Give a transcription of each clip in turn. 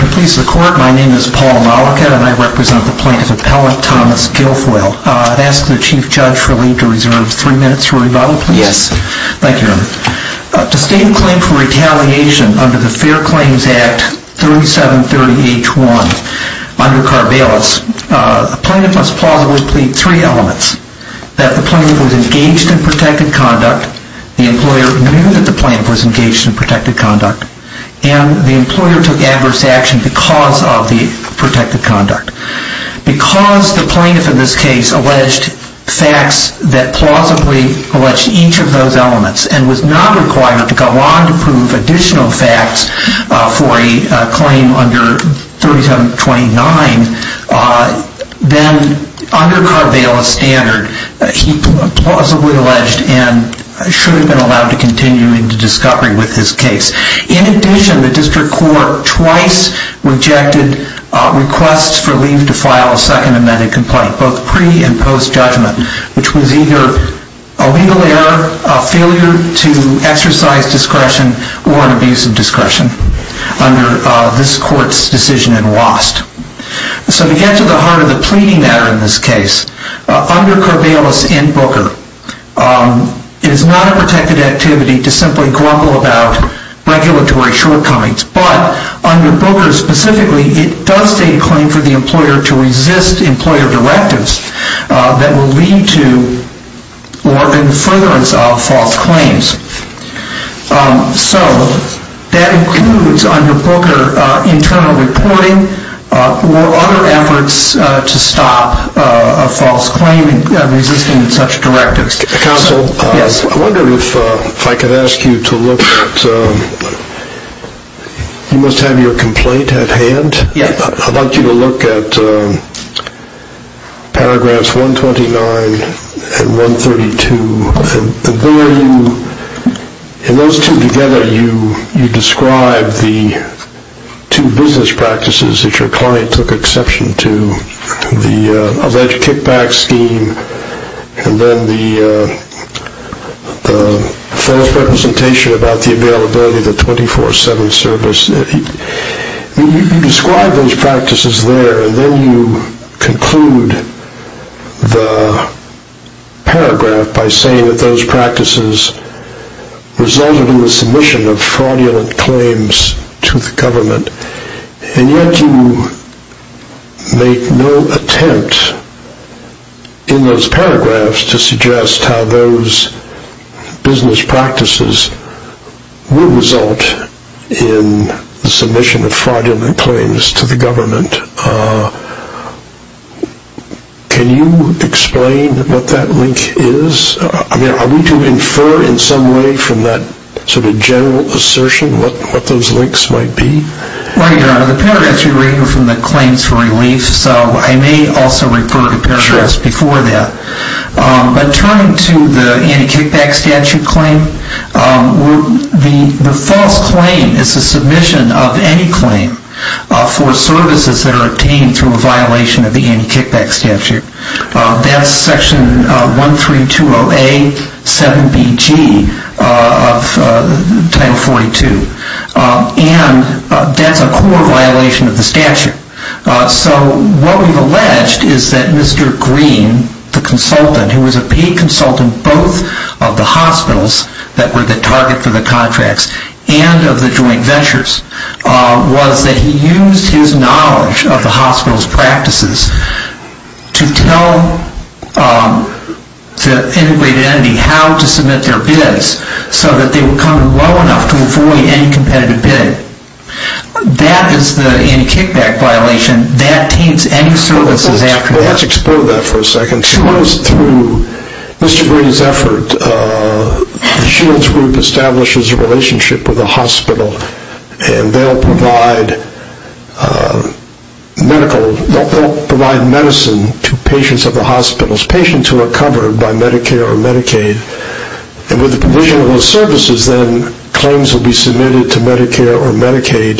Can it please the court, my name is Paul Malachat and I represent the plaintiff's appellant Thomas Guilfoile. I'd ask the Chief Judge for leave to reserve three minutes for rebuttal, please. Yes. Thank you. To state a claim for retaliation under the Fair Claims Act 3730H1 under Carvalis, a plaintiff must plausibly plead three elements. That the plaintiff was engaged in protected conduct, the employer knew that the plaintiff was engaged in protected conduct, and the employer took adverse action because of the protected conduct. Because the plaintiff in this case alleged facts that plausibly alleged each of those elements and was not required to go on to prove additional facts for a claim under 3729, then under Carvalis standard, he plausibly alleged and should have been allowed to continue into discovery with this case. In addition, the district court twice rejected requests for leave to file a second amended complaint, both pre and post judgment, which was either a legal error, a failure to exercise discretion, or an abuse of discretion under this court's decision in WAST. So to get to the heart of the pleading matter in this case, under Carvalis and Booker, it is not a protected activity to simply grumble about regulatory shortcomings, but under Booker specifically, it does state a claim for the employer to resist employer directives that will lead to or in furtherance of false claims. So that includes under Booker internal reporting or other efforts to stop a false claim resisting such directives. Counsel, I wonder if I could ask you to look at, you must have your complaint at hand. I'd like you to look at paragraphs 129 and 132. In those two together, you describe the two business practices that your client took exception to, the alleged kickback scheme and then the false representation about the availability of the 24-7 service. You describe those practices there and then you conclude the paragraph by saying that those practices resulted in the submission of fraudulent claims to the government, and yet you make no attempt in those paragraphs to suggest how those business practices would result in the submission of fraudulent claims to the government. Can you explain what that link is? Are we to infer in some way from that sort of general assertion what those links might be? Right, Your Honor. The paragraphs you read are from the claims for relief, so I may also refer to paragraphs before that. But turning to the anti-kickback statute claim, the false claim is the submission of any claim for services that are obtained through a violation of the anti-kickback statute. That's Section 1320A, 7BG of Title 42. And that's a core violation of the statute. So what we've alleged is that Mr. Green, the consultant, who was a paid consultant both of the hospitals that were the target for the contracts and of the joint ventures, was that he used his knowledge of the hospital's practices to tell the integrated entity how to submit their bids so that they would come in low enough to avoid any competitive bid. That is the anti-kickback violation. That taints any services after that. Let's explore that for a second. Through Mr. Green's effort, the Shields Group establishes a relationship with the hospital, and they'll provide medical, they'll provide medicine to patients at the hospitals, patients who are covered by Medicare or Medicaid. And with the provision of those services, then, claims will be submitted to Medicare or Medicaid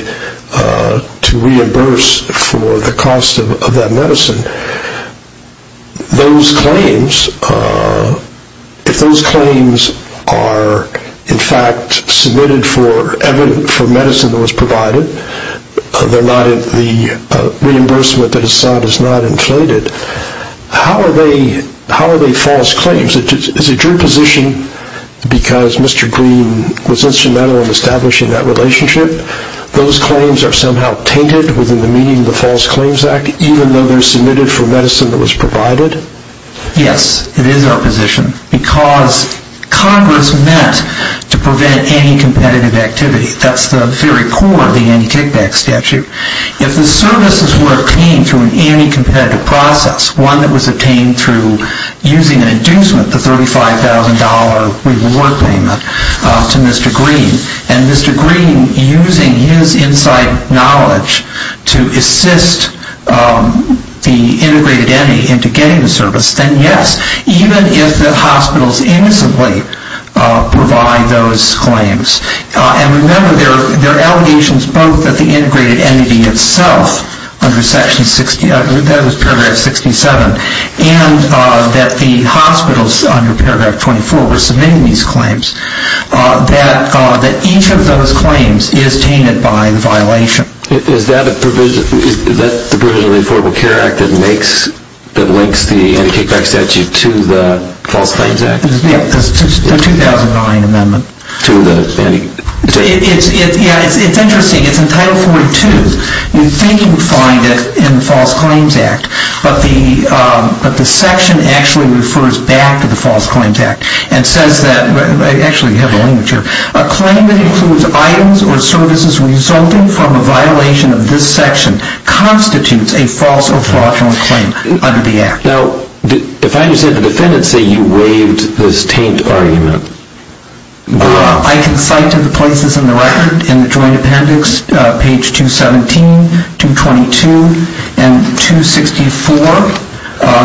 to reimburse for the cost of that medicine. Those claims, if those claims are, in fact, submitted for medicine that was provided, the reimbursement that is assigned is not inflated, how are they false claims? Is it your position, because Mr. Green was instrumental in establishing that relationship, those claims are somehow tainted within the meaning of the False Claims Act, even though they're submitted for medicine that was provided? Yes, it is our position. Because Congress met to prevent any competitive activity. That's the very core of the anti-kickback statute. If the services were obtained through an anti-competitive process, one that was obtained through using an inducement, the $35,000 reward payment to Mr. Green, and Mr. Green using his inside knowledge to assist the integrated entity into getting the service, then yes, even if the hospitals innocently provide those claims. And remember, there are allegations both that the integrated entity itself under Section 60, that was Paragraph 67, and that the hospitals under Paragraph 24 were submitting these claims, that each of those claims is tainted by the violation. Is that the provision of the Affordable Care Act that links the anti-kickback statute to the False Claims Act? Yes, the 2009 amendment. To the anti-... Yes, it's interesting. It's in Title 42. You'd think you would find it in the False Claims Act, and says that, actually you have the language here, a claim that includes items or services resulting from a violation of this section constitutes a false or fraudulent claim under the Act. Now, if I understand, the defendants say you waived this taint argument. I can cite to the places in the record, in the joint appendix, page 217, 222, and 264,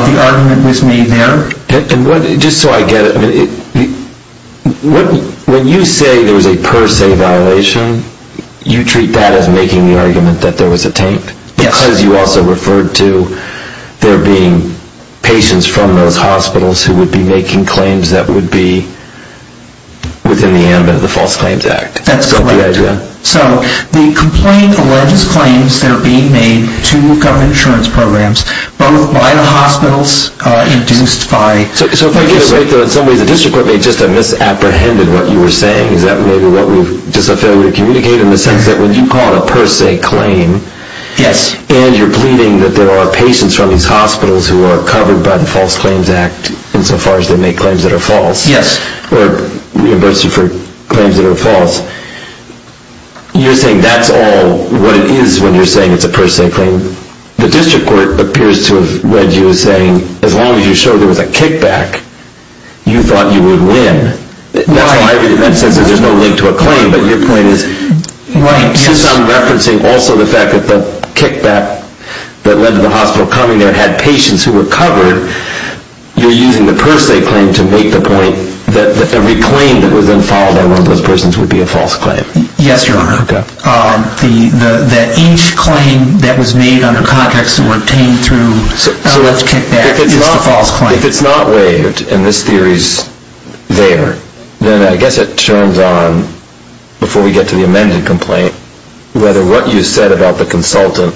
the argument was made there. Just so I get it, when you say there was a per se violation, you treat that as making the argument that there was a taint? Yes. Because you also referred to there being patients from those hospitals who would be making claims that would be within the ambit of the False Claims Act. That's correct. So the complaint alleges claims that are being made to government insurance programs, both by the hospitals, induced by... So if I get it right, in some ways the district court may have just misapprehended what you were saying. Is that maybe just a failure to communicate in the sense that when you call it a per se claim... Yes. ...and you're pleading that there are patients from these hospitals who are covered by the False Claims Act, insofar as they make claims that are false... Yes. ...or reimburse you for claims that are false, you're saying that's all what it is when you're saying it's a per se claim? The district court appears to have read you as saying, as long as you show there was a kickback, you thought you would win. Right. That's how I read it, in the sense that there's no link to a claim, but your point is... Right. You sound referencing also the fact that the kickback that led to the hospital coming there had patients who were covered. You're using the per se claim to make the point that every claim that was then filed on one of those persons would be a false claim. Yes, Your Honor. Okay. That each claim that was made under context were obtained through a kickback is a false claim. If it's not waived, and this theory's there, then I guess it turns on, before we get to the amended complaint, whether what you said about the consultant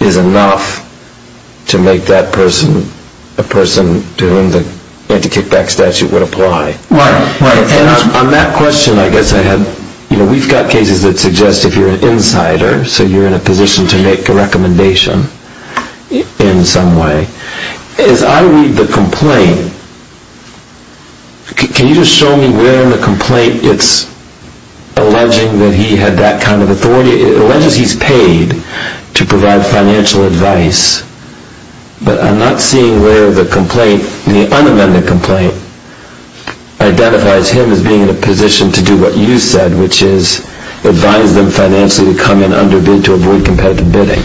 is enough to make that person a person to whom the anti-kickback statute would apply. Right. And on that question, I guess I had... You know, we've got cases that suggest if you're an insider, so you're in a position to make a recommendation in some way. As I read the complaint, can you just show me where in the complaint it's alleging that he had that kind of authority? It alleges he's paid to provide financial advice, but I'm not seeing where the complaint, the unamended complaint, identifies him as being in a position to do what you said, which is advise them financially to come in underbid to avoid competitive bidding.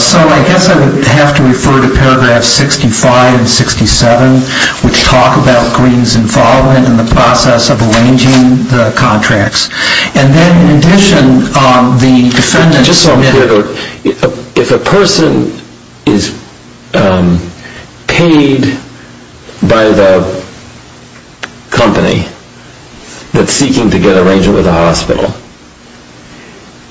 So I guess I would have to refer to paragraphs 65 and 67, which talk about Green's involvement in the process of arranging the contracts. And then, in addition, the defendant... Just so I'm clear, if a person is paid by the company that's seeking to get an arrangement with a hospital,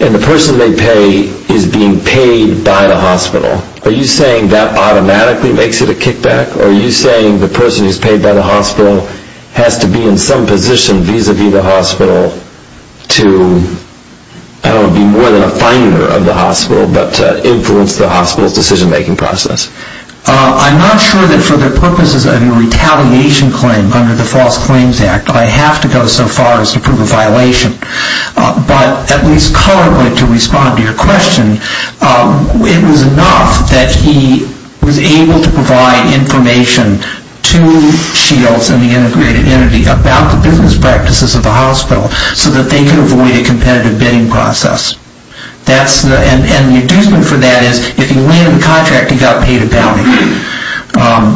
and the person they pay is being paid by the hospital, are you saying that automatically makes it a kickback? Or are you saying the person who's paid by the hospital has to be in some position vis-a-vis the hospital to, I don't know, be more than a finder of the hospital, but influence the hospital's decision-making process? I'm not sure that for the purposes of a retaliation claim under the False Claims Act, I have to go so far as to prove a violation. But at least color-wise, to respond to your question, it was enough that he was able to provide information to Shields and the integrated entity about the business practices of the hospital so that they could avoid a competitive bidding process. And the adjustment for that is, if he landed the contract, he got paid a bounty.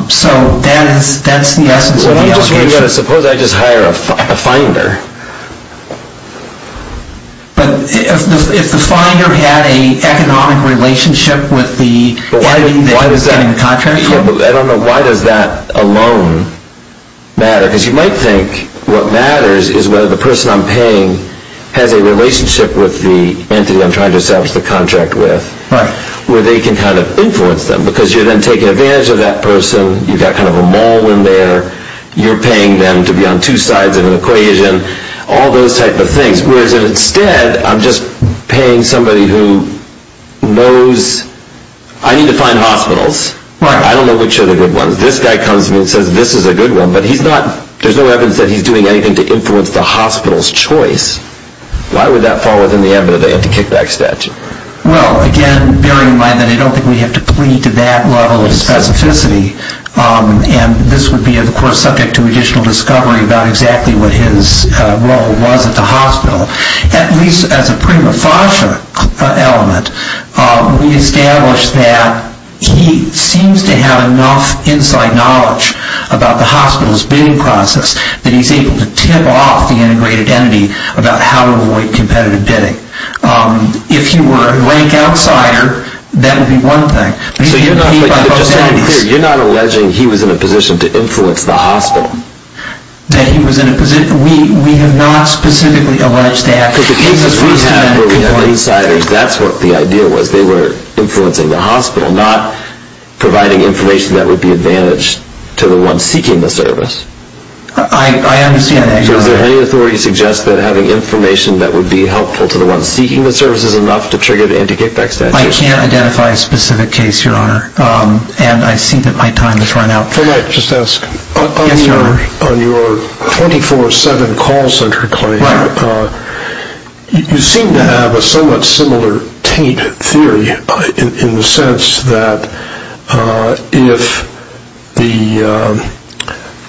So that's the essence of the allegation. Suppose I just hire a finder. But if the finder had an economic relationship with the entity that was getting the contract? I don't know, why does that alone matter? Because you might think what matters is whether the person I'm paying has a relationship with the entity I'm trying to establish the contract with, where they can kind of influence them, because you're then taking advantage of that person, you've got kind of a mole in there, you're paying them to be on two sides of an equation, all those types of things. Whereas instead, I'm just paying somebody who knows I need to find hospitals. I don't know which are the good ones. This guy comes to me and says this is a good one. But there's no evidence that he's doing anything to influence the hospital's choice. Why would that fall within the ambit of the anti-kickback statute? Well, again, bearing in mind that I don't think we have to plead to that level of specificity, and this would be, of course, subject to additional discovery about exactly what his role was at the hospital. At least as a prima facie element, we establish that he seems to have enough inside knowledge about the hospital's bidding process that he's able to tip off the integrated entity about how to avoid competitive bidding. If he were a blank outsider, that would be one thing. So you're not alleging he was in a position to influence the hospital? We have not specifically alleged that. Because the cases we had where we had insiders, that's what the idea was. They were influencing the hospital, not providing information that would be advantage to the one seeking the service. I understand that. Does any authority suggest that having information that would be helpful to the one seeking the service is enough to trigger the anti-kickback statute? I can't identify a specific case, Your Honor, and I see that my time has run out. If I might just ask. Yes, Your Honor. On your 24-7 call center claim, you seem to have a somewhat similar taint theory in the sense that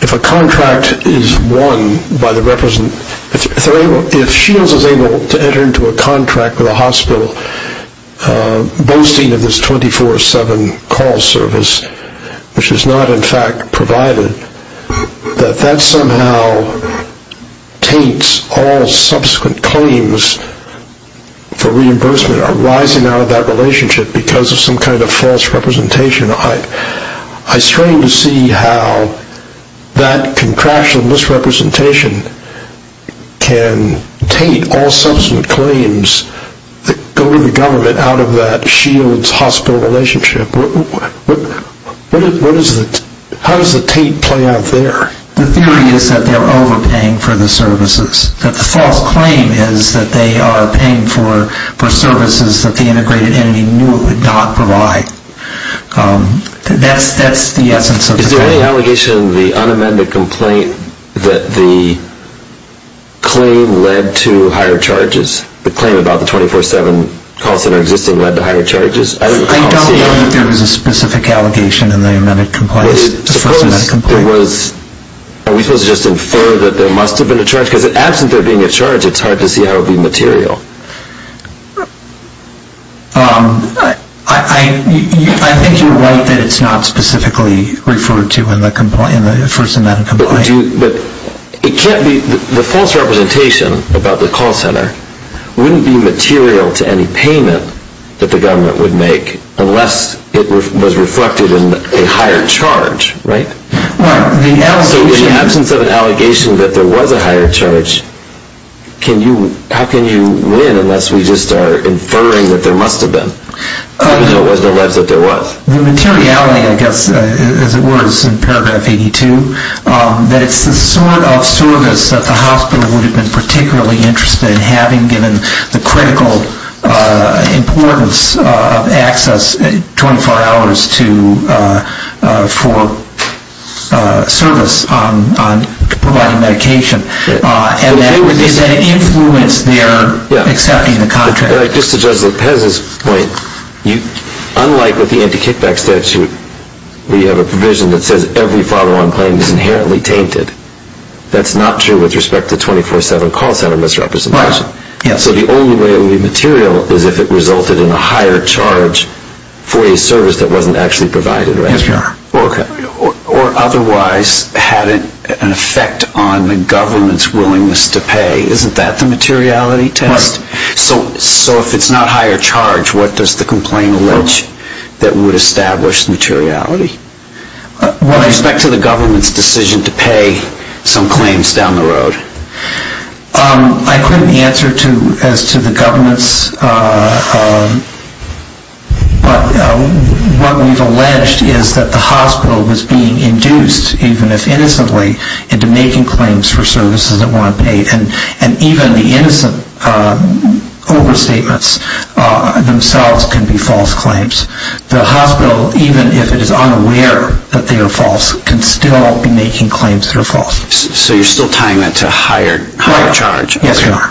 if a contract is won by the representative, if Shields is able to enter into a contract with a hospital boasting of this 24-7 call service, which is not in fact provided, that that somehow taints all subsequent claims for reimbursement arising out of that relationship because of some kind of false representation. I strain to see how that contraction, this representation, can taint all subsequent claims that go to the government out of that Shields-hospital relationship. How does the taint play out there? The theory is that they're overpaying for the services. The false claim is that they are paying for services that the integrated entity knew it would not provide. That's the essence of the claim. Is there any allegation in the unamended complaint that the claim led to higher charges? The claim about the 24-7 call center existing led to higher charges? I don't know that there was a specific allegation in the first amended complaint. Are we supposed to just infer that there must have been a charge? Because absent there being a charge, it's hard to see how it would be material. I think you're right that it's not specifically referred to in the first amended complaint. The false representation about the call center wouldn't be material to any payment that the government would make unless it was reflected in a higher charge, right? So in the absence of an allegation that there was a higher charge, how can you win unless we just are inferring that there must have been, even though it was alleged that there was? The materiality, I guess, as it was in paragraph 82, that it's the sort of service that the hospital would have been particularly interested in having given the critical importance of access 24 hours for service on providing medication. And that would influence their accepting the contract. Just to Judge Lopez's point, unlike with the anti-kickback statute, we have a provision that says every follow-on claim is inherently tainted. That's not true with respect to 24-7 call center misrepresentation. So the only way it would be material is if it resulted in a higher charge for a service that wasn't actually provided, right? Or otherwise had an effect on the government's willingness to pay. Isn't that the materiality test? So if it's not higher charge, what does the complaint allege that would establish materiality? With respect to the government's decision to pay some claims down the road. I couldn't answer as to the government's, but what we've alleged is that the hospital was being induced, even if innocently, into making claims for services that weren't paid. And even the innocent overstatements themselves can be false claims. The hospital, even if it is unaware that they are false, can still be making claims that are false. So you're still tying that to higher charge? Yes, Your Honor.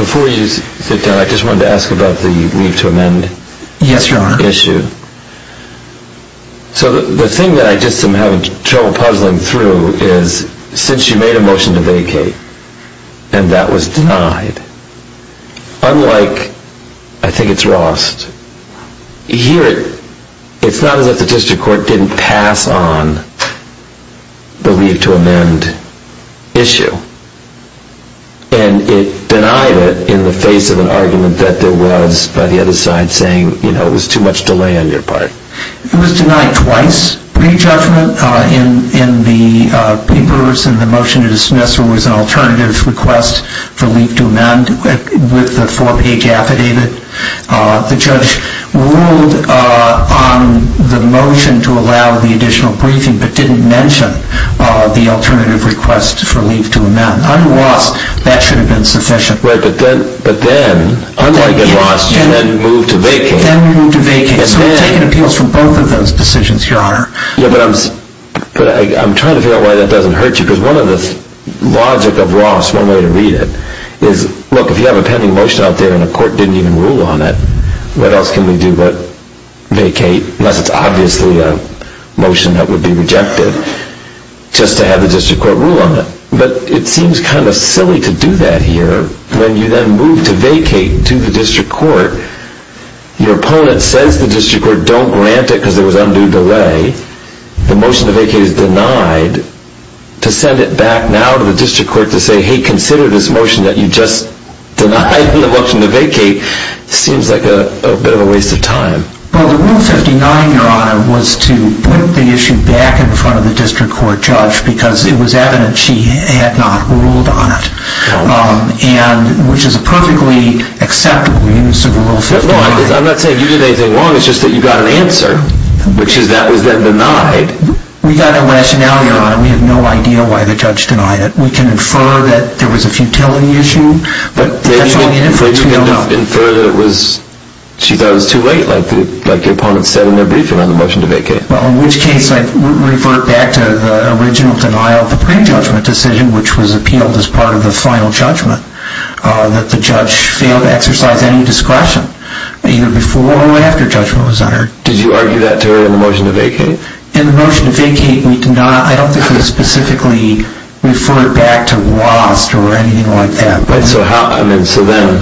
Before you sit down, I just wanted to ask about the leave to amend issue. Yes, Your Honor. So the thing that I just am having trouble puzzling through is, since you made a motion to vacate and that was denied, unlike, I think it's Rost, here it's not as if the district court didn't pass on the leave to amend issue. And it denied it in the face of an argument that there was by the other side saying, you know, it was too much delay on your part. It was denied twice. Pre-judgment in the papers and the motion to dismiss, there was an alternative request for leave to amend with the four-page affidavit. The judge ruled on the motion to allow the additional briefing, but didn't mention the alternative request for leave to amend. Under Rost, that should have been sufficient. But then, unlike in Rost, you then moved to vacate. Then we moved to vacate. So we're taking appeals from both of those decisions, Your Honor. But I'm trying to figure out why that doesn't hurt you. Because one of the logic of Rost, one way to read it, is look, if you have a pending motion out there and a court didn't even rule on it, what else can we do but vacate, unless it's obviously a motion that would be rejected, just to have the district court rule on it. But it seems kind of silly to do that here. When you then move to vacate to the district court, your opponent says to the district court, don't grant it because there was undue delay. The motion to vacate is denied. To send it back now to the district court to say, hey, consider this motion that you just denied in the motion to vacate, seems like a bit of a waste of time. Well, the rule 59, Your Honor, was to put the issue back in front of the district court judge because it was evident she had not ruled on it, which is a perfectly acceptable use of rule 59. No, I'm not saying you did anything wrong. It's just that you got an answer, which is that was then denied. We got a rationale, Your Honor. We have no idea why the judge denied it. We can infer that there was a futility issue, but that's all the inference we know. But you can infer that it was, she thought it was too late, like your opponent said in their briefing on the motion to vacate. Well, in which case I revert back to the original denial of the pre-judgment decision, which was appealed as part of the final judgment, that the judge failed to exercise any discretion, either before or after judgment was uttered. Did you argue that, too, in the motion to vacate? In the motion to vacate, we did not, I don't think we specifically referred back to lost or anything like that. But so how, I mean, so then,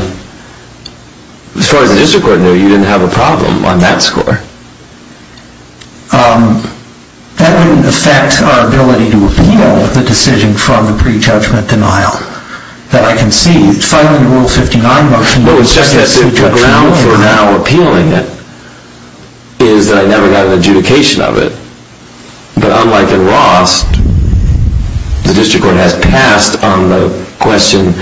as far as the district court knew, you didn't have a problem on that score. That wouldn't affect our ability to appeal the decision from the pre-judgment denial that I conceived. Finally, the Rule 59 motion... Well, it's just that the ground for now appealing it is that I never got an adjudication of it. But unlike in lost, the district court has passed on the question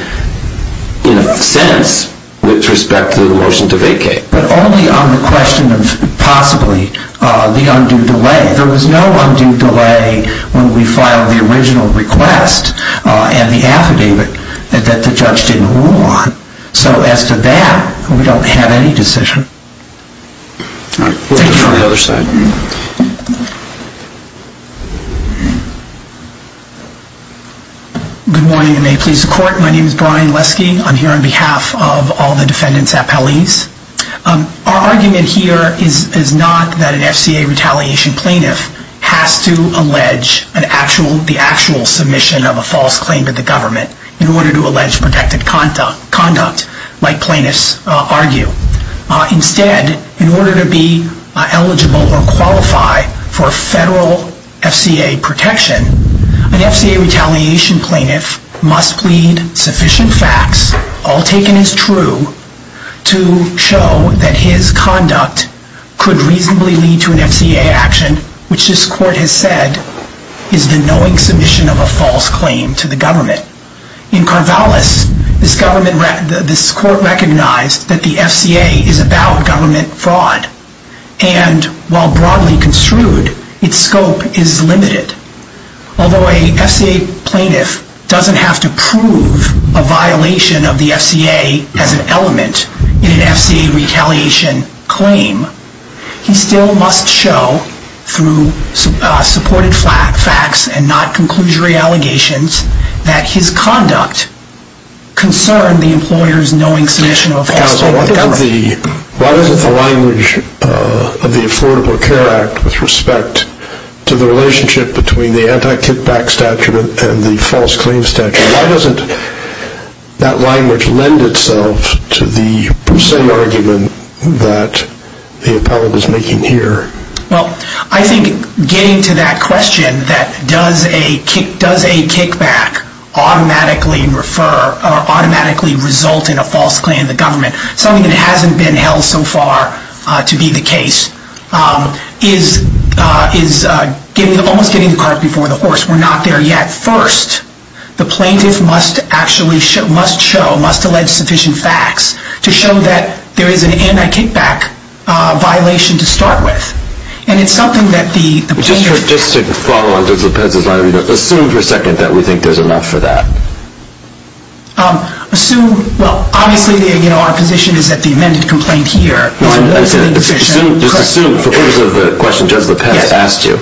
in a sense with respect to the motion to vacate. But only on the question of possibly the undue delay. There was no undue delay when we filed the original request and the affidavit that the judge didn't rule on. So as to that, we don't have any decision. All right. We'll go to the other side. Good morning, and may it please the Court. My name is Brian Lesky. I'm here on behalf of all the defendants' appellees. Our argument here is not that an FCA retaliation plaintiff has to allege the actual submission of a false claim to the government in order to allege protected conduct, like plaintiffs argue. Instead, in order to be eligible or qualify for federal FCA protection, an FCA retaliation plaintiff must plead sufficient facts, all taken as true, to show that his conduct could reasonably lead to an FCA action, which this Court has said is the knowing submission of a false claim to the government. In Carvallis, this Court recognized that the FCA is about government fraud. And while broadly construed, its scope is limited. Although an FCA plaintiff doesn't have to prove a violation of the FCA as an element in an FCA retaliation claim, he still must show, through supported facts and not conclusory allegations, that his conduct concerned the employer's knowing submission of a false claim to the government. Why doesn't the language of the Affordable Care Act with respect to the relationship between the anti-kickback statute and the false claim statute, why doesn't that language lend itself to the Poussey argument that the appellate is making here? Well, I think getting to that question, that does a kickback automatically result in a false claim to the government, something that hasn't been held so far to be the case, is almost getting the cart before the horse. We're not there yet. First, the plaintiff must show, must allege sufficient facts to show that there is an anti-kickback violation to start with. And it's something that the plaintiff... Just to follow on Judge Lopez's line, assume for a second that we think there's enough for that. Assume... Well, obviously our position is that the amended complaint here... Just assume, for purposes of the question Judge Lopez asked you,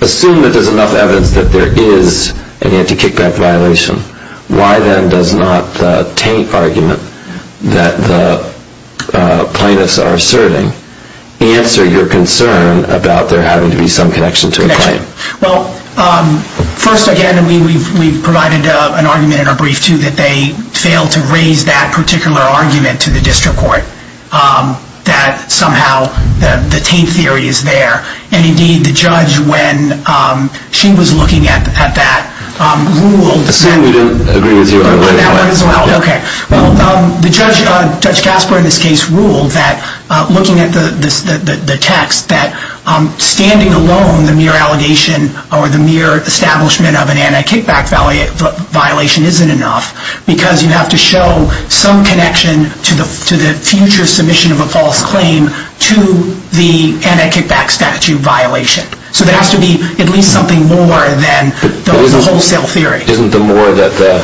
assume that there's enough evidence that there is an anti-kickback violation. Why then does not the taint argument that the plaintiffs are asserting answer your concern about there having to be some connection to a claim? Well, first, again, we've provided an argument in our brief, too, that they failed to raise that particular argument to the district court, that somehow the taint theory is there. And, indeed, the judge, when she was looking at that, ruled... Assume we don't agree with you on that one as well. Okay. Well, Judge Casper, in this case, ruled that, looking at the text, that standing alone the mere allegation or the mere establishment of an anti-kickback violation isn't enough because you have to show some connection to the future submission of a false claim to the anti-kickback statute violation. So there has to be at least something more than the wholesale theory. Isn't the more that the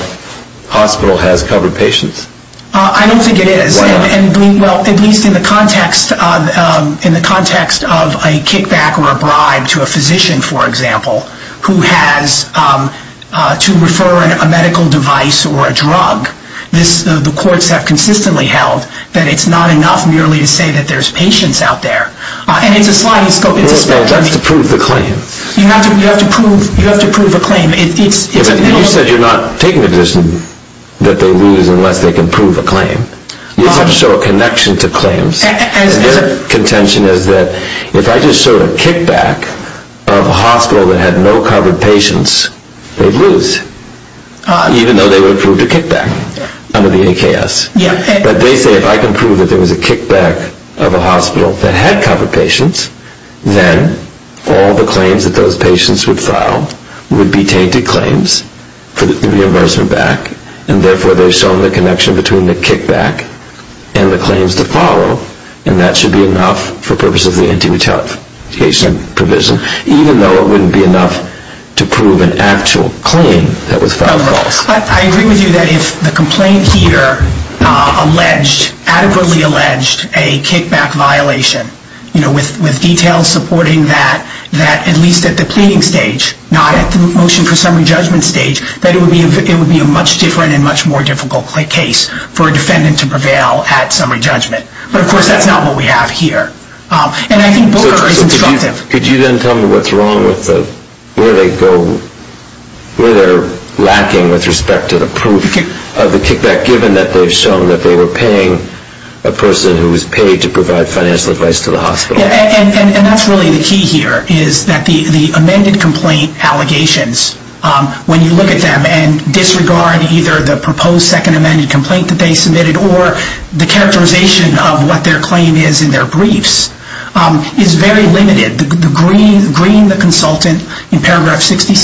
hospital has covered patients? I don't think it is. Why not? Well, at least in the context of a kickback or a bribe to a physician, for example, who has to refer a medical device or a drug, the courts have consistently held that it's not enough merely to say that there's patients out there. And it's a sliding scope. That's to prove the claim. You have to prove a claim. You said you're not taking a decision that they lose unless they can prove a claim. You have to show a connection to claims. And their contention is that if I just showed a kickback of a hospital that had no covered patients, they'd lose, even though they would have proved a kickback under the AKS. But they say if I can prove that there was a kickback of a hospital that had covered patients, then all the claims that those patients would file would be tainted claims for the reimbursement back, and therefore they've shown the connection between the kickback and the claims to follow, and that should be enough for purposes of the anti-mutilation provision, even though it wouldn't be enough to prove an actual claim that was filed false. I agree with you that if the complaint here alleged, adequately alleged, a kickback violation, with details supporting that at least at the pleading stage, not at the motion for summary judgment stage, that it would be a much different and much more difficult case for a defendant to prevail at summary judgment. But, of course, that's not what we have here. And I think Booker is instructive. Could you then tell me what's wrong with where they're lacking with respect to the proof of the kickback, given that they've shown that they were paying a person who was paid to provide financial advice to the hospital? And that's really the key here, is that the amended complaint allegations, when you look at them and disregard either the proposed second amended complaint that they submitted or the characterization of what their claim is in their briefs, is very limited. Green, the consultant in paragraph 67,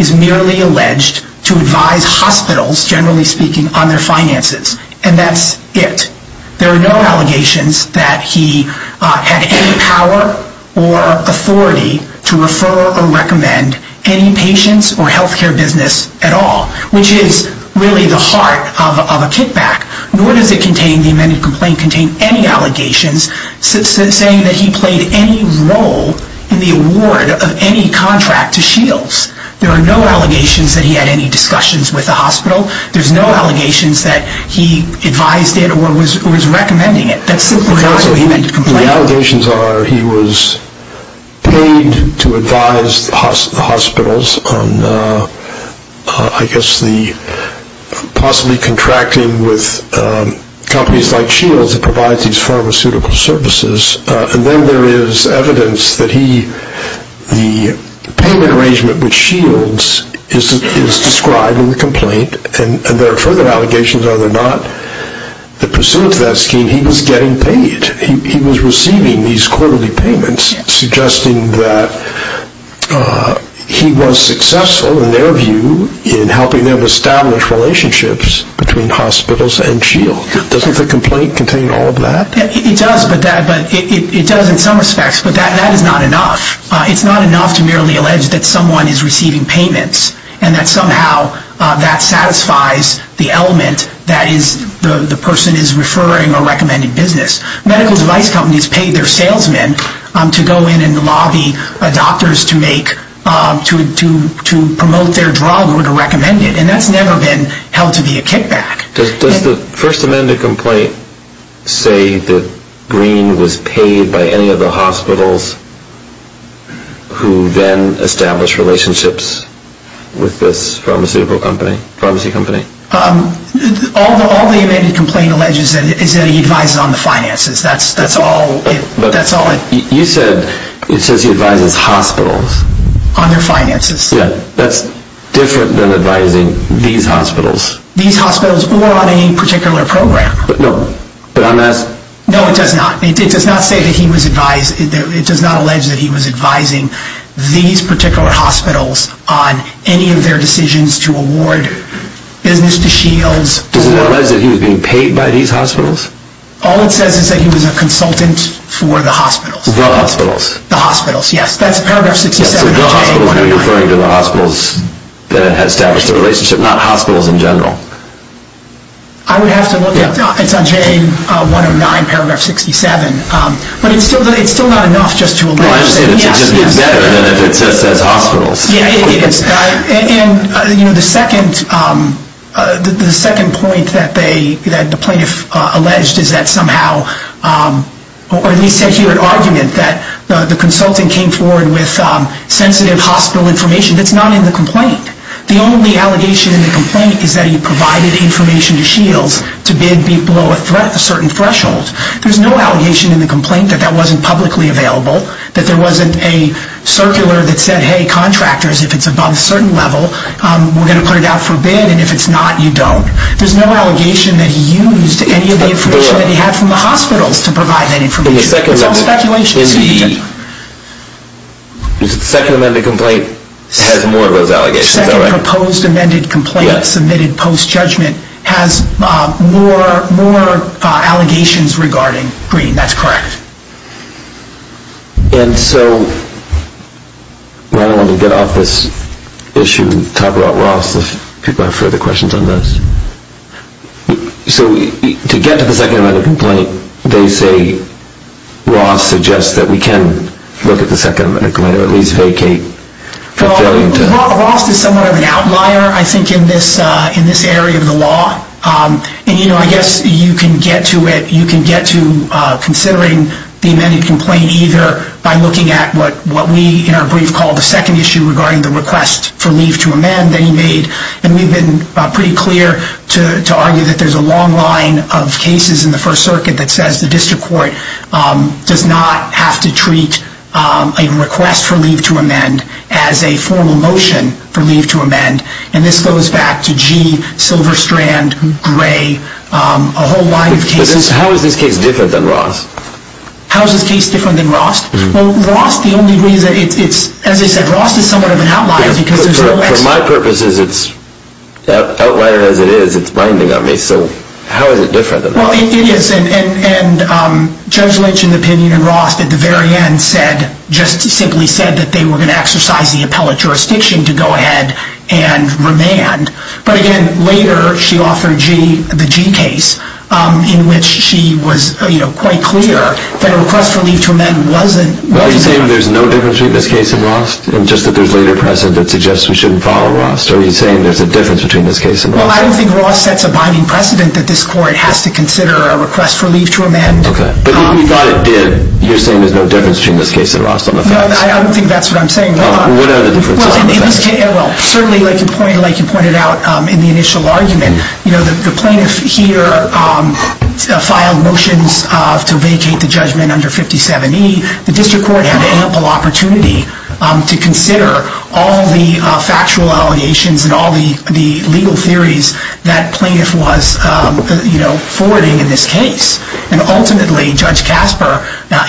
is merely alleged to advise hospitals, generally speaking, on their finances, and that's it. There are no allegations that he had any power or authority to refer or recommend any patients or health care business at all, which is really the heart of a kickback. Nor does the amended complaint contain any allegations saying that he played any role in the award of any contract to Shields. There are no allegations that he had any discussions with the hospital. There's no allegations that he advised it or was recommending it. The allegations are he was paid to advise the hospitals on possibly contracting with companies like Shields that provides these pharmaceutical services, and then there is evidence that the payment arrangement with Shields is described in the complaint, and there are further allegations, whether or not, in the pursuit of that scheme, he was getting paid. He was receiving these quarterly payments, suggesting that he was successful, in their view, in helping them establish relationships between hospitals and Shields. Doesn't the complaint contain all of that? It does in some respects, but that is not enough. It's not enough to merely allege that someone is receiving payments and that somehow that satisfies the element that the person is referring or recommending business. Medical device companies pay their salesmen to go in and lobby doctors to promote their drug or to recommend it, and that's never been held to be a kickback. Does the first amended complaint say that Green was paid by any of the hospitals who then established relationships with this pharmaceutical company? All the amended complaint alleges is that he advises on the finances. You said it says he advises hospitals. On their finances. That's different than advising these hospitals. These hospitals or on any particular program. No, it does not. It does not say that he was advising. It does not allege that he was advising these particular hospitals on any of their decisions to award business to Shields. Does it allege that he was being paid by these hospitals? All it says is that he was a consultant for the hospitals. The hospitals. The hospitals, yes. That's paragraph 67 of JA109. So the hospitals are referring to the hospitals that had established a relationship, not hospitals in general. I would have to look up. It's on JA109, paragraph 67. But it's still not enough just to allege. It's better than if it says hospitals. Yeah, it is. And the second point that the plaintiff alleged is that somehow, or at least said here in argument, that the consultant came forward with sensitive hospital information. That's not in the complaint. The only allegation in the complaint is that he provided information to Shields to bid below a certain threshold. There's no allegation in the complaint that that wasn't publicly available, that there wasn't a circular that said, hey, contractors, if it's above a certain level, we're going to put it out for bid, and if it's not, you don't. There's no allegation that he used any of the information that he had from the hospitals to provide that information. It's all speculation. The second amended complaint has more of those allegations, is that right? The second proposed amended complaint submitted post-judgment has more allegations regarding Green. That's correct. And so, why don't we get off this issue and talk about Ross if people have further questions on this. So to get to the second amended complaint, they say Ross suggests that we can look at the second amended complaint or at least vacate. Well, Ross is somewhat of an outlier, I think, in this area of the law. And, you know, I guess you can get to it, you can get to considering the amended complaint either by looking at what we, in our brief call, the second issue regarding the request for leave to amend that he made. And we've been pretty clear to argue that there's a long line of cases in the First Circuit that says the district court does not have to treat a request for leave to amend as a formal motion for leave to amend. And this goes back to G, Silver Strand, Gray, a whole line of cases. How is this case different than Ross? How is this case different than Ross? Well, Ross, the only reason it's, as I said, Ross is somewhat of an outlier. For my purposes, it's outlier as it is, it's blinding on me. So how is it different than Ross? Well, it is. And Judge Lynch, in the opinion of Ross, at the very end said, just simply said that they were going to exercise the appellate jurisdiction to go ahead and remand. But, again, later she offered G, the G case, in which she was, you know, quite clear that a request for leave to amend wasn't. Are you saying there's no difference between this case and Ross, and just that there's later precedent that suggests we shouldn't follow Ross? Are you saying there's a difference between this case and Ross? Well, I don't think Ross sets a binding precedent that this court has to consider a request for leave to amend. Okay. But if you thought it did, you're saying there's no difference between this case and Ross on the facts? No, I don't think that's what I'm saying. Well, what are the differences on the facts? Well, certainly, like you pointed out in the initial argument, you know, the plaintiff here filed motions to vacate the judgment under 57E. The district court had ample opportunity to consider all the factual allegations and all the legal theories that plaintiff was, you know, forwarding in this case. And, ultimately, Judge Casper,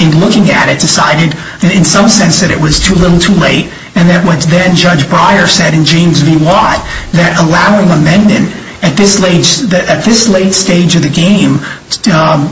in looking at it, decided in some sense that it was a little too late, and that what then Judge Breyer said in James v. Watt, that allowing amendment at this late stage of the game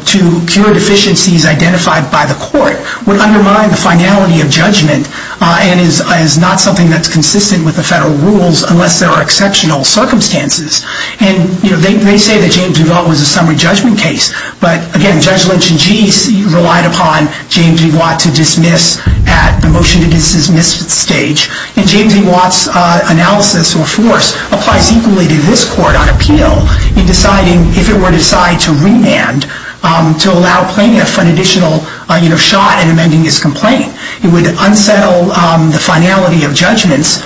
to cure deficiencies identified by the court would undermine the finality of judgment and is not something that's consistent with the federal rules unless there are exceptional circumstances. And, you know, they say that James v. Watt was a summary judgment case, but, again, Judge Lynch and GE relied upon James v. Watt to dismiss at the motion to dismiss stage. And James v. Watt's analysis or force applies equally to this court on appeal in deciding, if it were decided to remand, to allow plaintiff an additional, you know, shot in amending his complaint. It would unsettle the finality of judgments,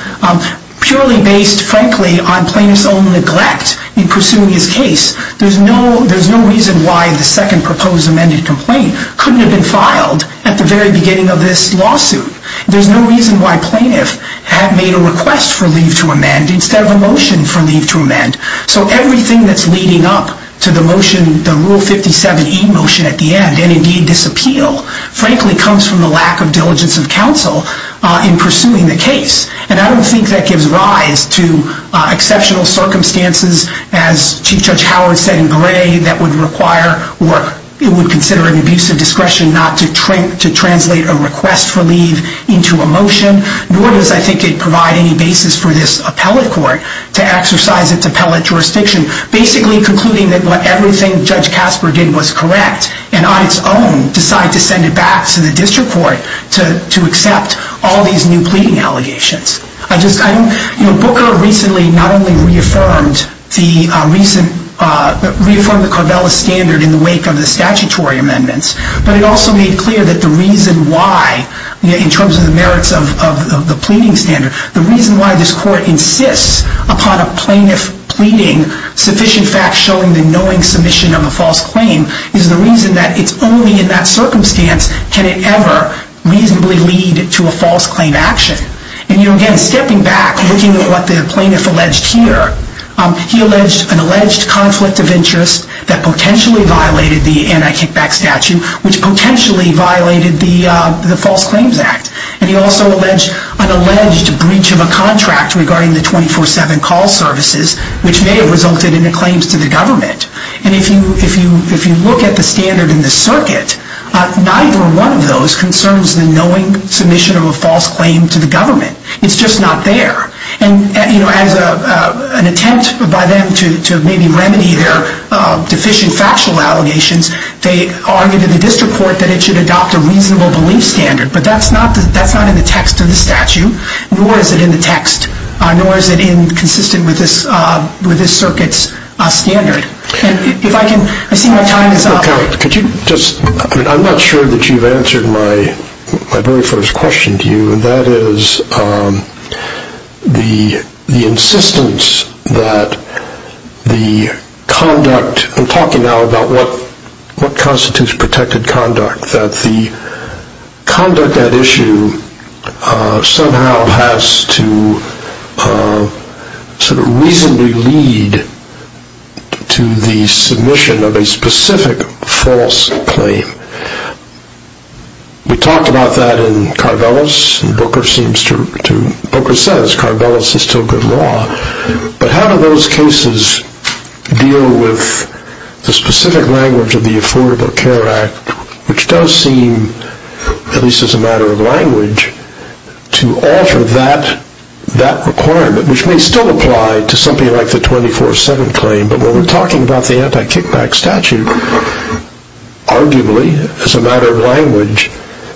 purely based, frankly, on plaintiff's own neglect in pursuing his case. There's no reason why the second proposed amended complaint couldn't have been filed at the very beginning of this lawsuit. There's no reason why plaintiff had made a request for leave to amend instead of a motion for leave to amend. So everything that's leading up to the motion, the Rule 57e motion at the end, and, indeed, this appeal, frankly, comes from the lack of diligence of counsel in pursuing the case. And I don't think that gives rise to exceptional circumstances, as Chief Judge Howard said in Gray, that would require or it would consider an abuse of discretion not to translate a request for leave into a motion, nor does I think it provide any basis for this appellate court to exercise its appellate jurisdiction, basically concluding that everything Judge Casper did was correct and, on its own, decide to send it back to the district court to accept all these new pleading allegations. Booker recently not only reaffirmed the Carvella standard in the wake of the statutory amendments, but it also made clear that the reason why, in terms of the merits of the pleading standard, the reason why this court insists upon a plaintiff pleading sufficient facts showing the knowing submission of a false claim is the reason that it's only in that circumstance can it ever reasonably lead to a false claim action. And, again, stepping back, looking at what the plaintiff alleged here, he alleged an alleged conflict of interest that potentially violated the anti-kickback statute, which potentially violated the False Claims Act. And he also alleged an alleged breach of a contract regarding the 24-7 call services, which may have resulted in a claim to the government. And if you look at the standard in the circuit, neither one of those concerns the knowing submission of a false claim to the government. It's just not there. And, you know, as an attempt by them to maybe remedy their deficient factual allegations, they argued in the district court that it should adopt a reasonable belief standard. But that's not in the text of the statute, nor is it in the text, nor is it consistent with this circuit's standard. And if I can, I see my time is up. I'm not sure that you've answered my very first question to you, and that is the insistence that the conduct, I'm talking now about what constitutes protected conduct, that the conduct at issue somehow has to sort of reasonably lead to the submission of a specific false claim. We talked about that in Carvelis, and Booker seems to, Booker says Carvelis is still good law, but how do those cases deal with the specific language of the Affordable Care Act, which does seem, at least as a matter of language, to alter that requirement, which may still apply to something like the 24-7 claim, but when we're talking about the anti-kickback statute, arguably, as a matter of language,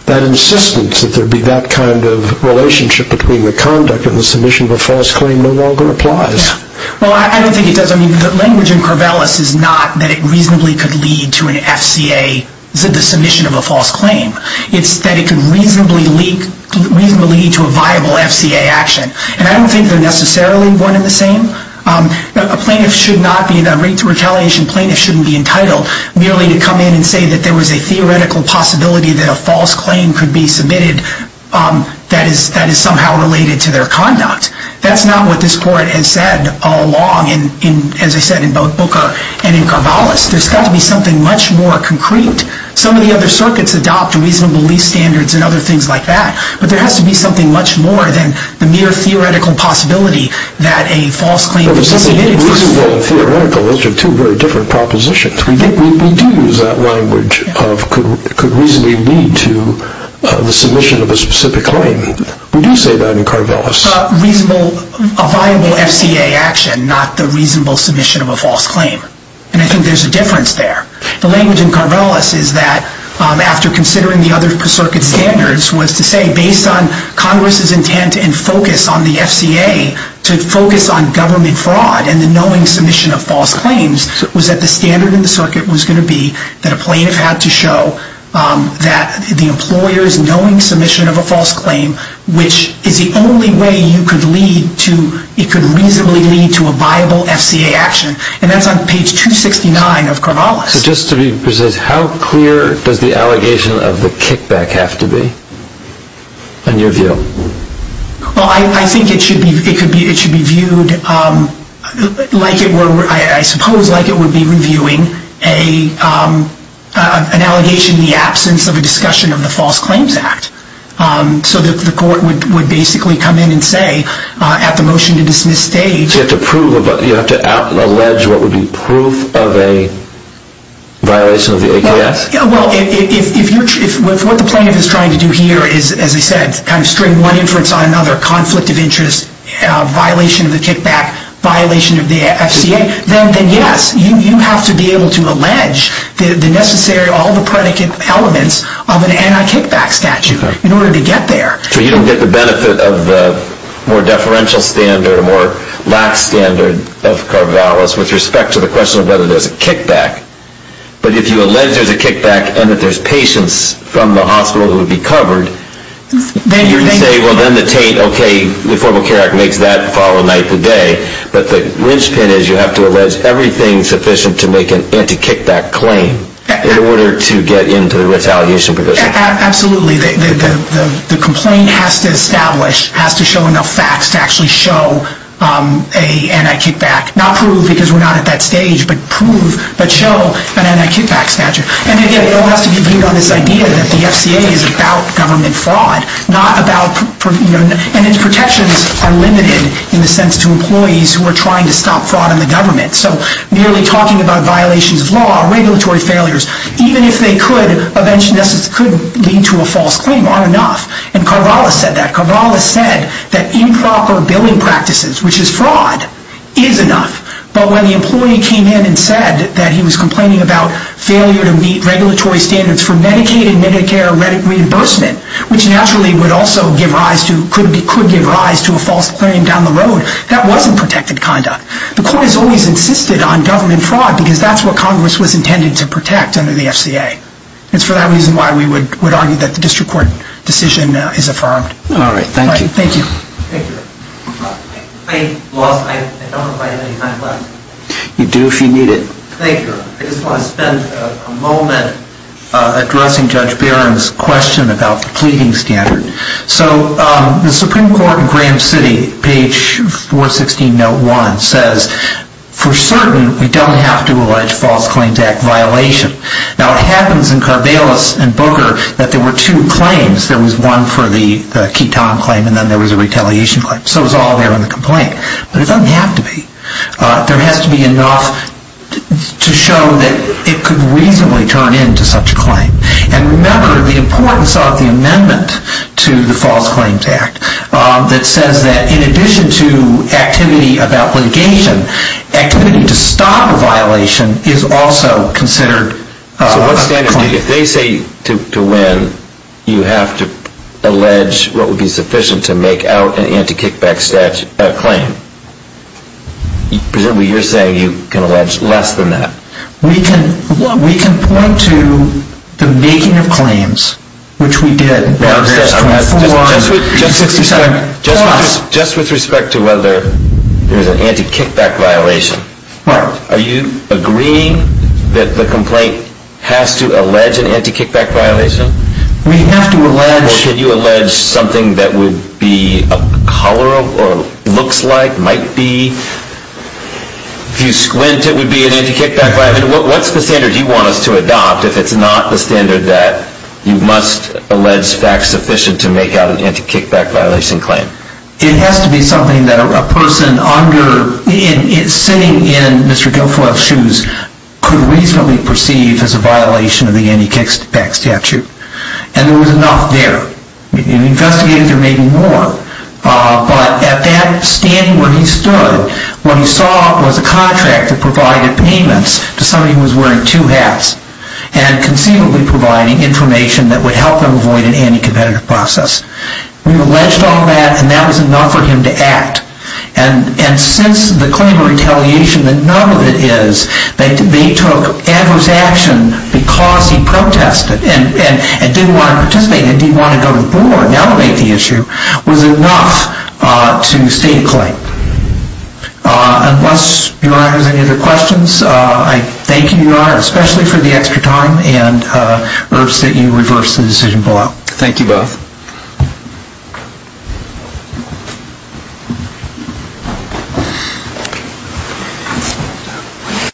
that insistence that there be that kind of relationship between the conduct and the submission of a false claim no longer applies. Well, I don't think it does. I mean, the language in Carvelis is not that it reasonably could lead to an FCA, the submission of a false claim. It's that it could reasonably lead to a viable FCA action, and I don't think they're necessarily one and the same. A plaintiff should not be, a rate to retaliation plaintiff shouldn't be entitled merely to come in and say that there was a theoretical possibility that a false claim could be submitted that is somehow related to their conduct. That's not what this Court has said all along, as I said, in both Booker and in Carvelis. There's got to be something much more concrete. Some of the other circuits adopt reasonable lease standards and other things like that, but there has to be something much more than the mere theoretical possibility that a false claim could be submitted. Reasonable and theoretical, those are two very different propositions. We do use that language of could reasonably lead to the submission of a specific claim. We do say that in Carvelis. A viable FCA action, not the reasonable submission of a false claim, and I think there's a difference there. The language in Carvelis is that, after considering the other circuit standards, was to say based on Congress's intent and focus on the FCA to focus on government fraud and the knowing submission of false claims, was that the standard in the circuit was going to be that a plaintiff had to show that the employer's knowing submission of a false claim, which is the only way it could reasonably lead to a viable FCA action, and that's on page 269 of Carvelis. So just to be precise, how clear does the allegation of the kickback have to be, in your view? Well, I think it should be viewed like it were, I suppose like it would be reviewing an allegation in the absence of a discussion of the False Claims Act, so that the court would basically come in and say at the motion to dismiss stage. So you have to prove, you have to allege what would be proof of a violation of the AKS? Well, if what the plaintiff is trying to do here is, as I said, kind of string one inference on another, conflict of interest, violation of the kickback, violation of the FCA, then yes, you have to be able to allege the necessary, all the predicate elements of an anti-kickback statute in order to get there. So you don't get the benefit of the more deferential standard or more lax standard of Carvelis with respect to the question of whether there's a kickback. But if you allege there's a kickback and that there's patients from the hospital who would be covered, then you're saying, well, then the Tate, okay, the Affordable Care Act makes that follow night to day, but the linchpin is you have to allege everything sufficient to make an anti-kickback claim in order to get into the retaliation provision. Absolutely. The complaint has to establish, has to show enough facts to actually show an anti-kickback, not prove because we're not at that stage, but prove, but show an anti-kickback statute. And again, it all has to be viewed on this idea that the FCA is about government fraud, not about, and its protections are limited in the sense to employees who are trying to stop fraud in the government. So merely talking about violations of law, regulatory failures, even if they could eventually lead to a false claim are enough. And Carvelis said that. Carvelis said that improper billing practices, which is fraud, is enough. But when the employee came in and said that he was complaining about failure to meet regulatory standards for Medicaid and Medicare reimbursement, which naturally could give rise to a false claim down the road, that wasn't protected conduct. The court has always insisted on government fraud because that's what Congress was intended to protect under the FCA. It's for that reason why we would argue that the district court decision is affirmed. All right. Thank you. Thank you. Thank you. I don't have any time left. You do if you need it. Thank you. I just want to spend a moment addressing Judge Barron's question about the pleading standard. So the Supreme Court in Grand City, page 416, note 1, says, for certain, we don't have to allege false claims act violation. Now, it happens in Carvelis and Booker that there were two claims. There was one for the ketamine claim and then there was a retaliation claim. So it was all there in the complaint. But it doesn't have to be. There has to be enough to show that it could reasonably turn into such a claim. And remember the importance of the amendment to the false claims act that says that in addition to activity about litigation, activity to stop a violation is also considered a claim. If they say to when you have to allege what would be sufficient to make out an anti-kickback claim, presumably you're saying you can allege less than that. We can point to the making of claims, which we did. Just with respect to whether there was an anti-kickback violation, are you agreeing that the complaint has to allege an anti-kickback violation? We have to allege. Or could you allege something that would be a color or looks like, might be? If you squint, it would be an anti-kickback violation. What's the standard you want us to adopt if it's not the standard that you must allege facts sufficient to make out an anti-kickback violation claim? It has to be something that a person sitting in Mr. Guilfoyle's shoes could reasonably perceive as a violation of the anti-kickback statute. And there was enough there. Investigators are making more. But at that standing where he stood, what he saw was a contract that provided payments to somebody who was wearing two hats and conceivably providing information that would help them avoid an anti-competitive process. We've alleged all that, and that was enough for him to act. And since the claim of retaliation, that none of it is that they took adverse action because he protested and didn't want to participate and didn't want to go to court and elevate the issue, was enough to state a claim. Unless, Your Honor, there's any other questions, I thank you, Your Honor, especially for the extra time, and urge that you reverse the decision below. Thank you both.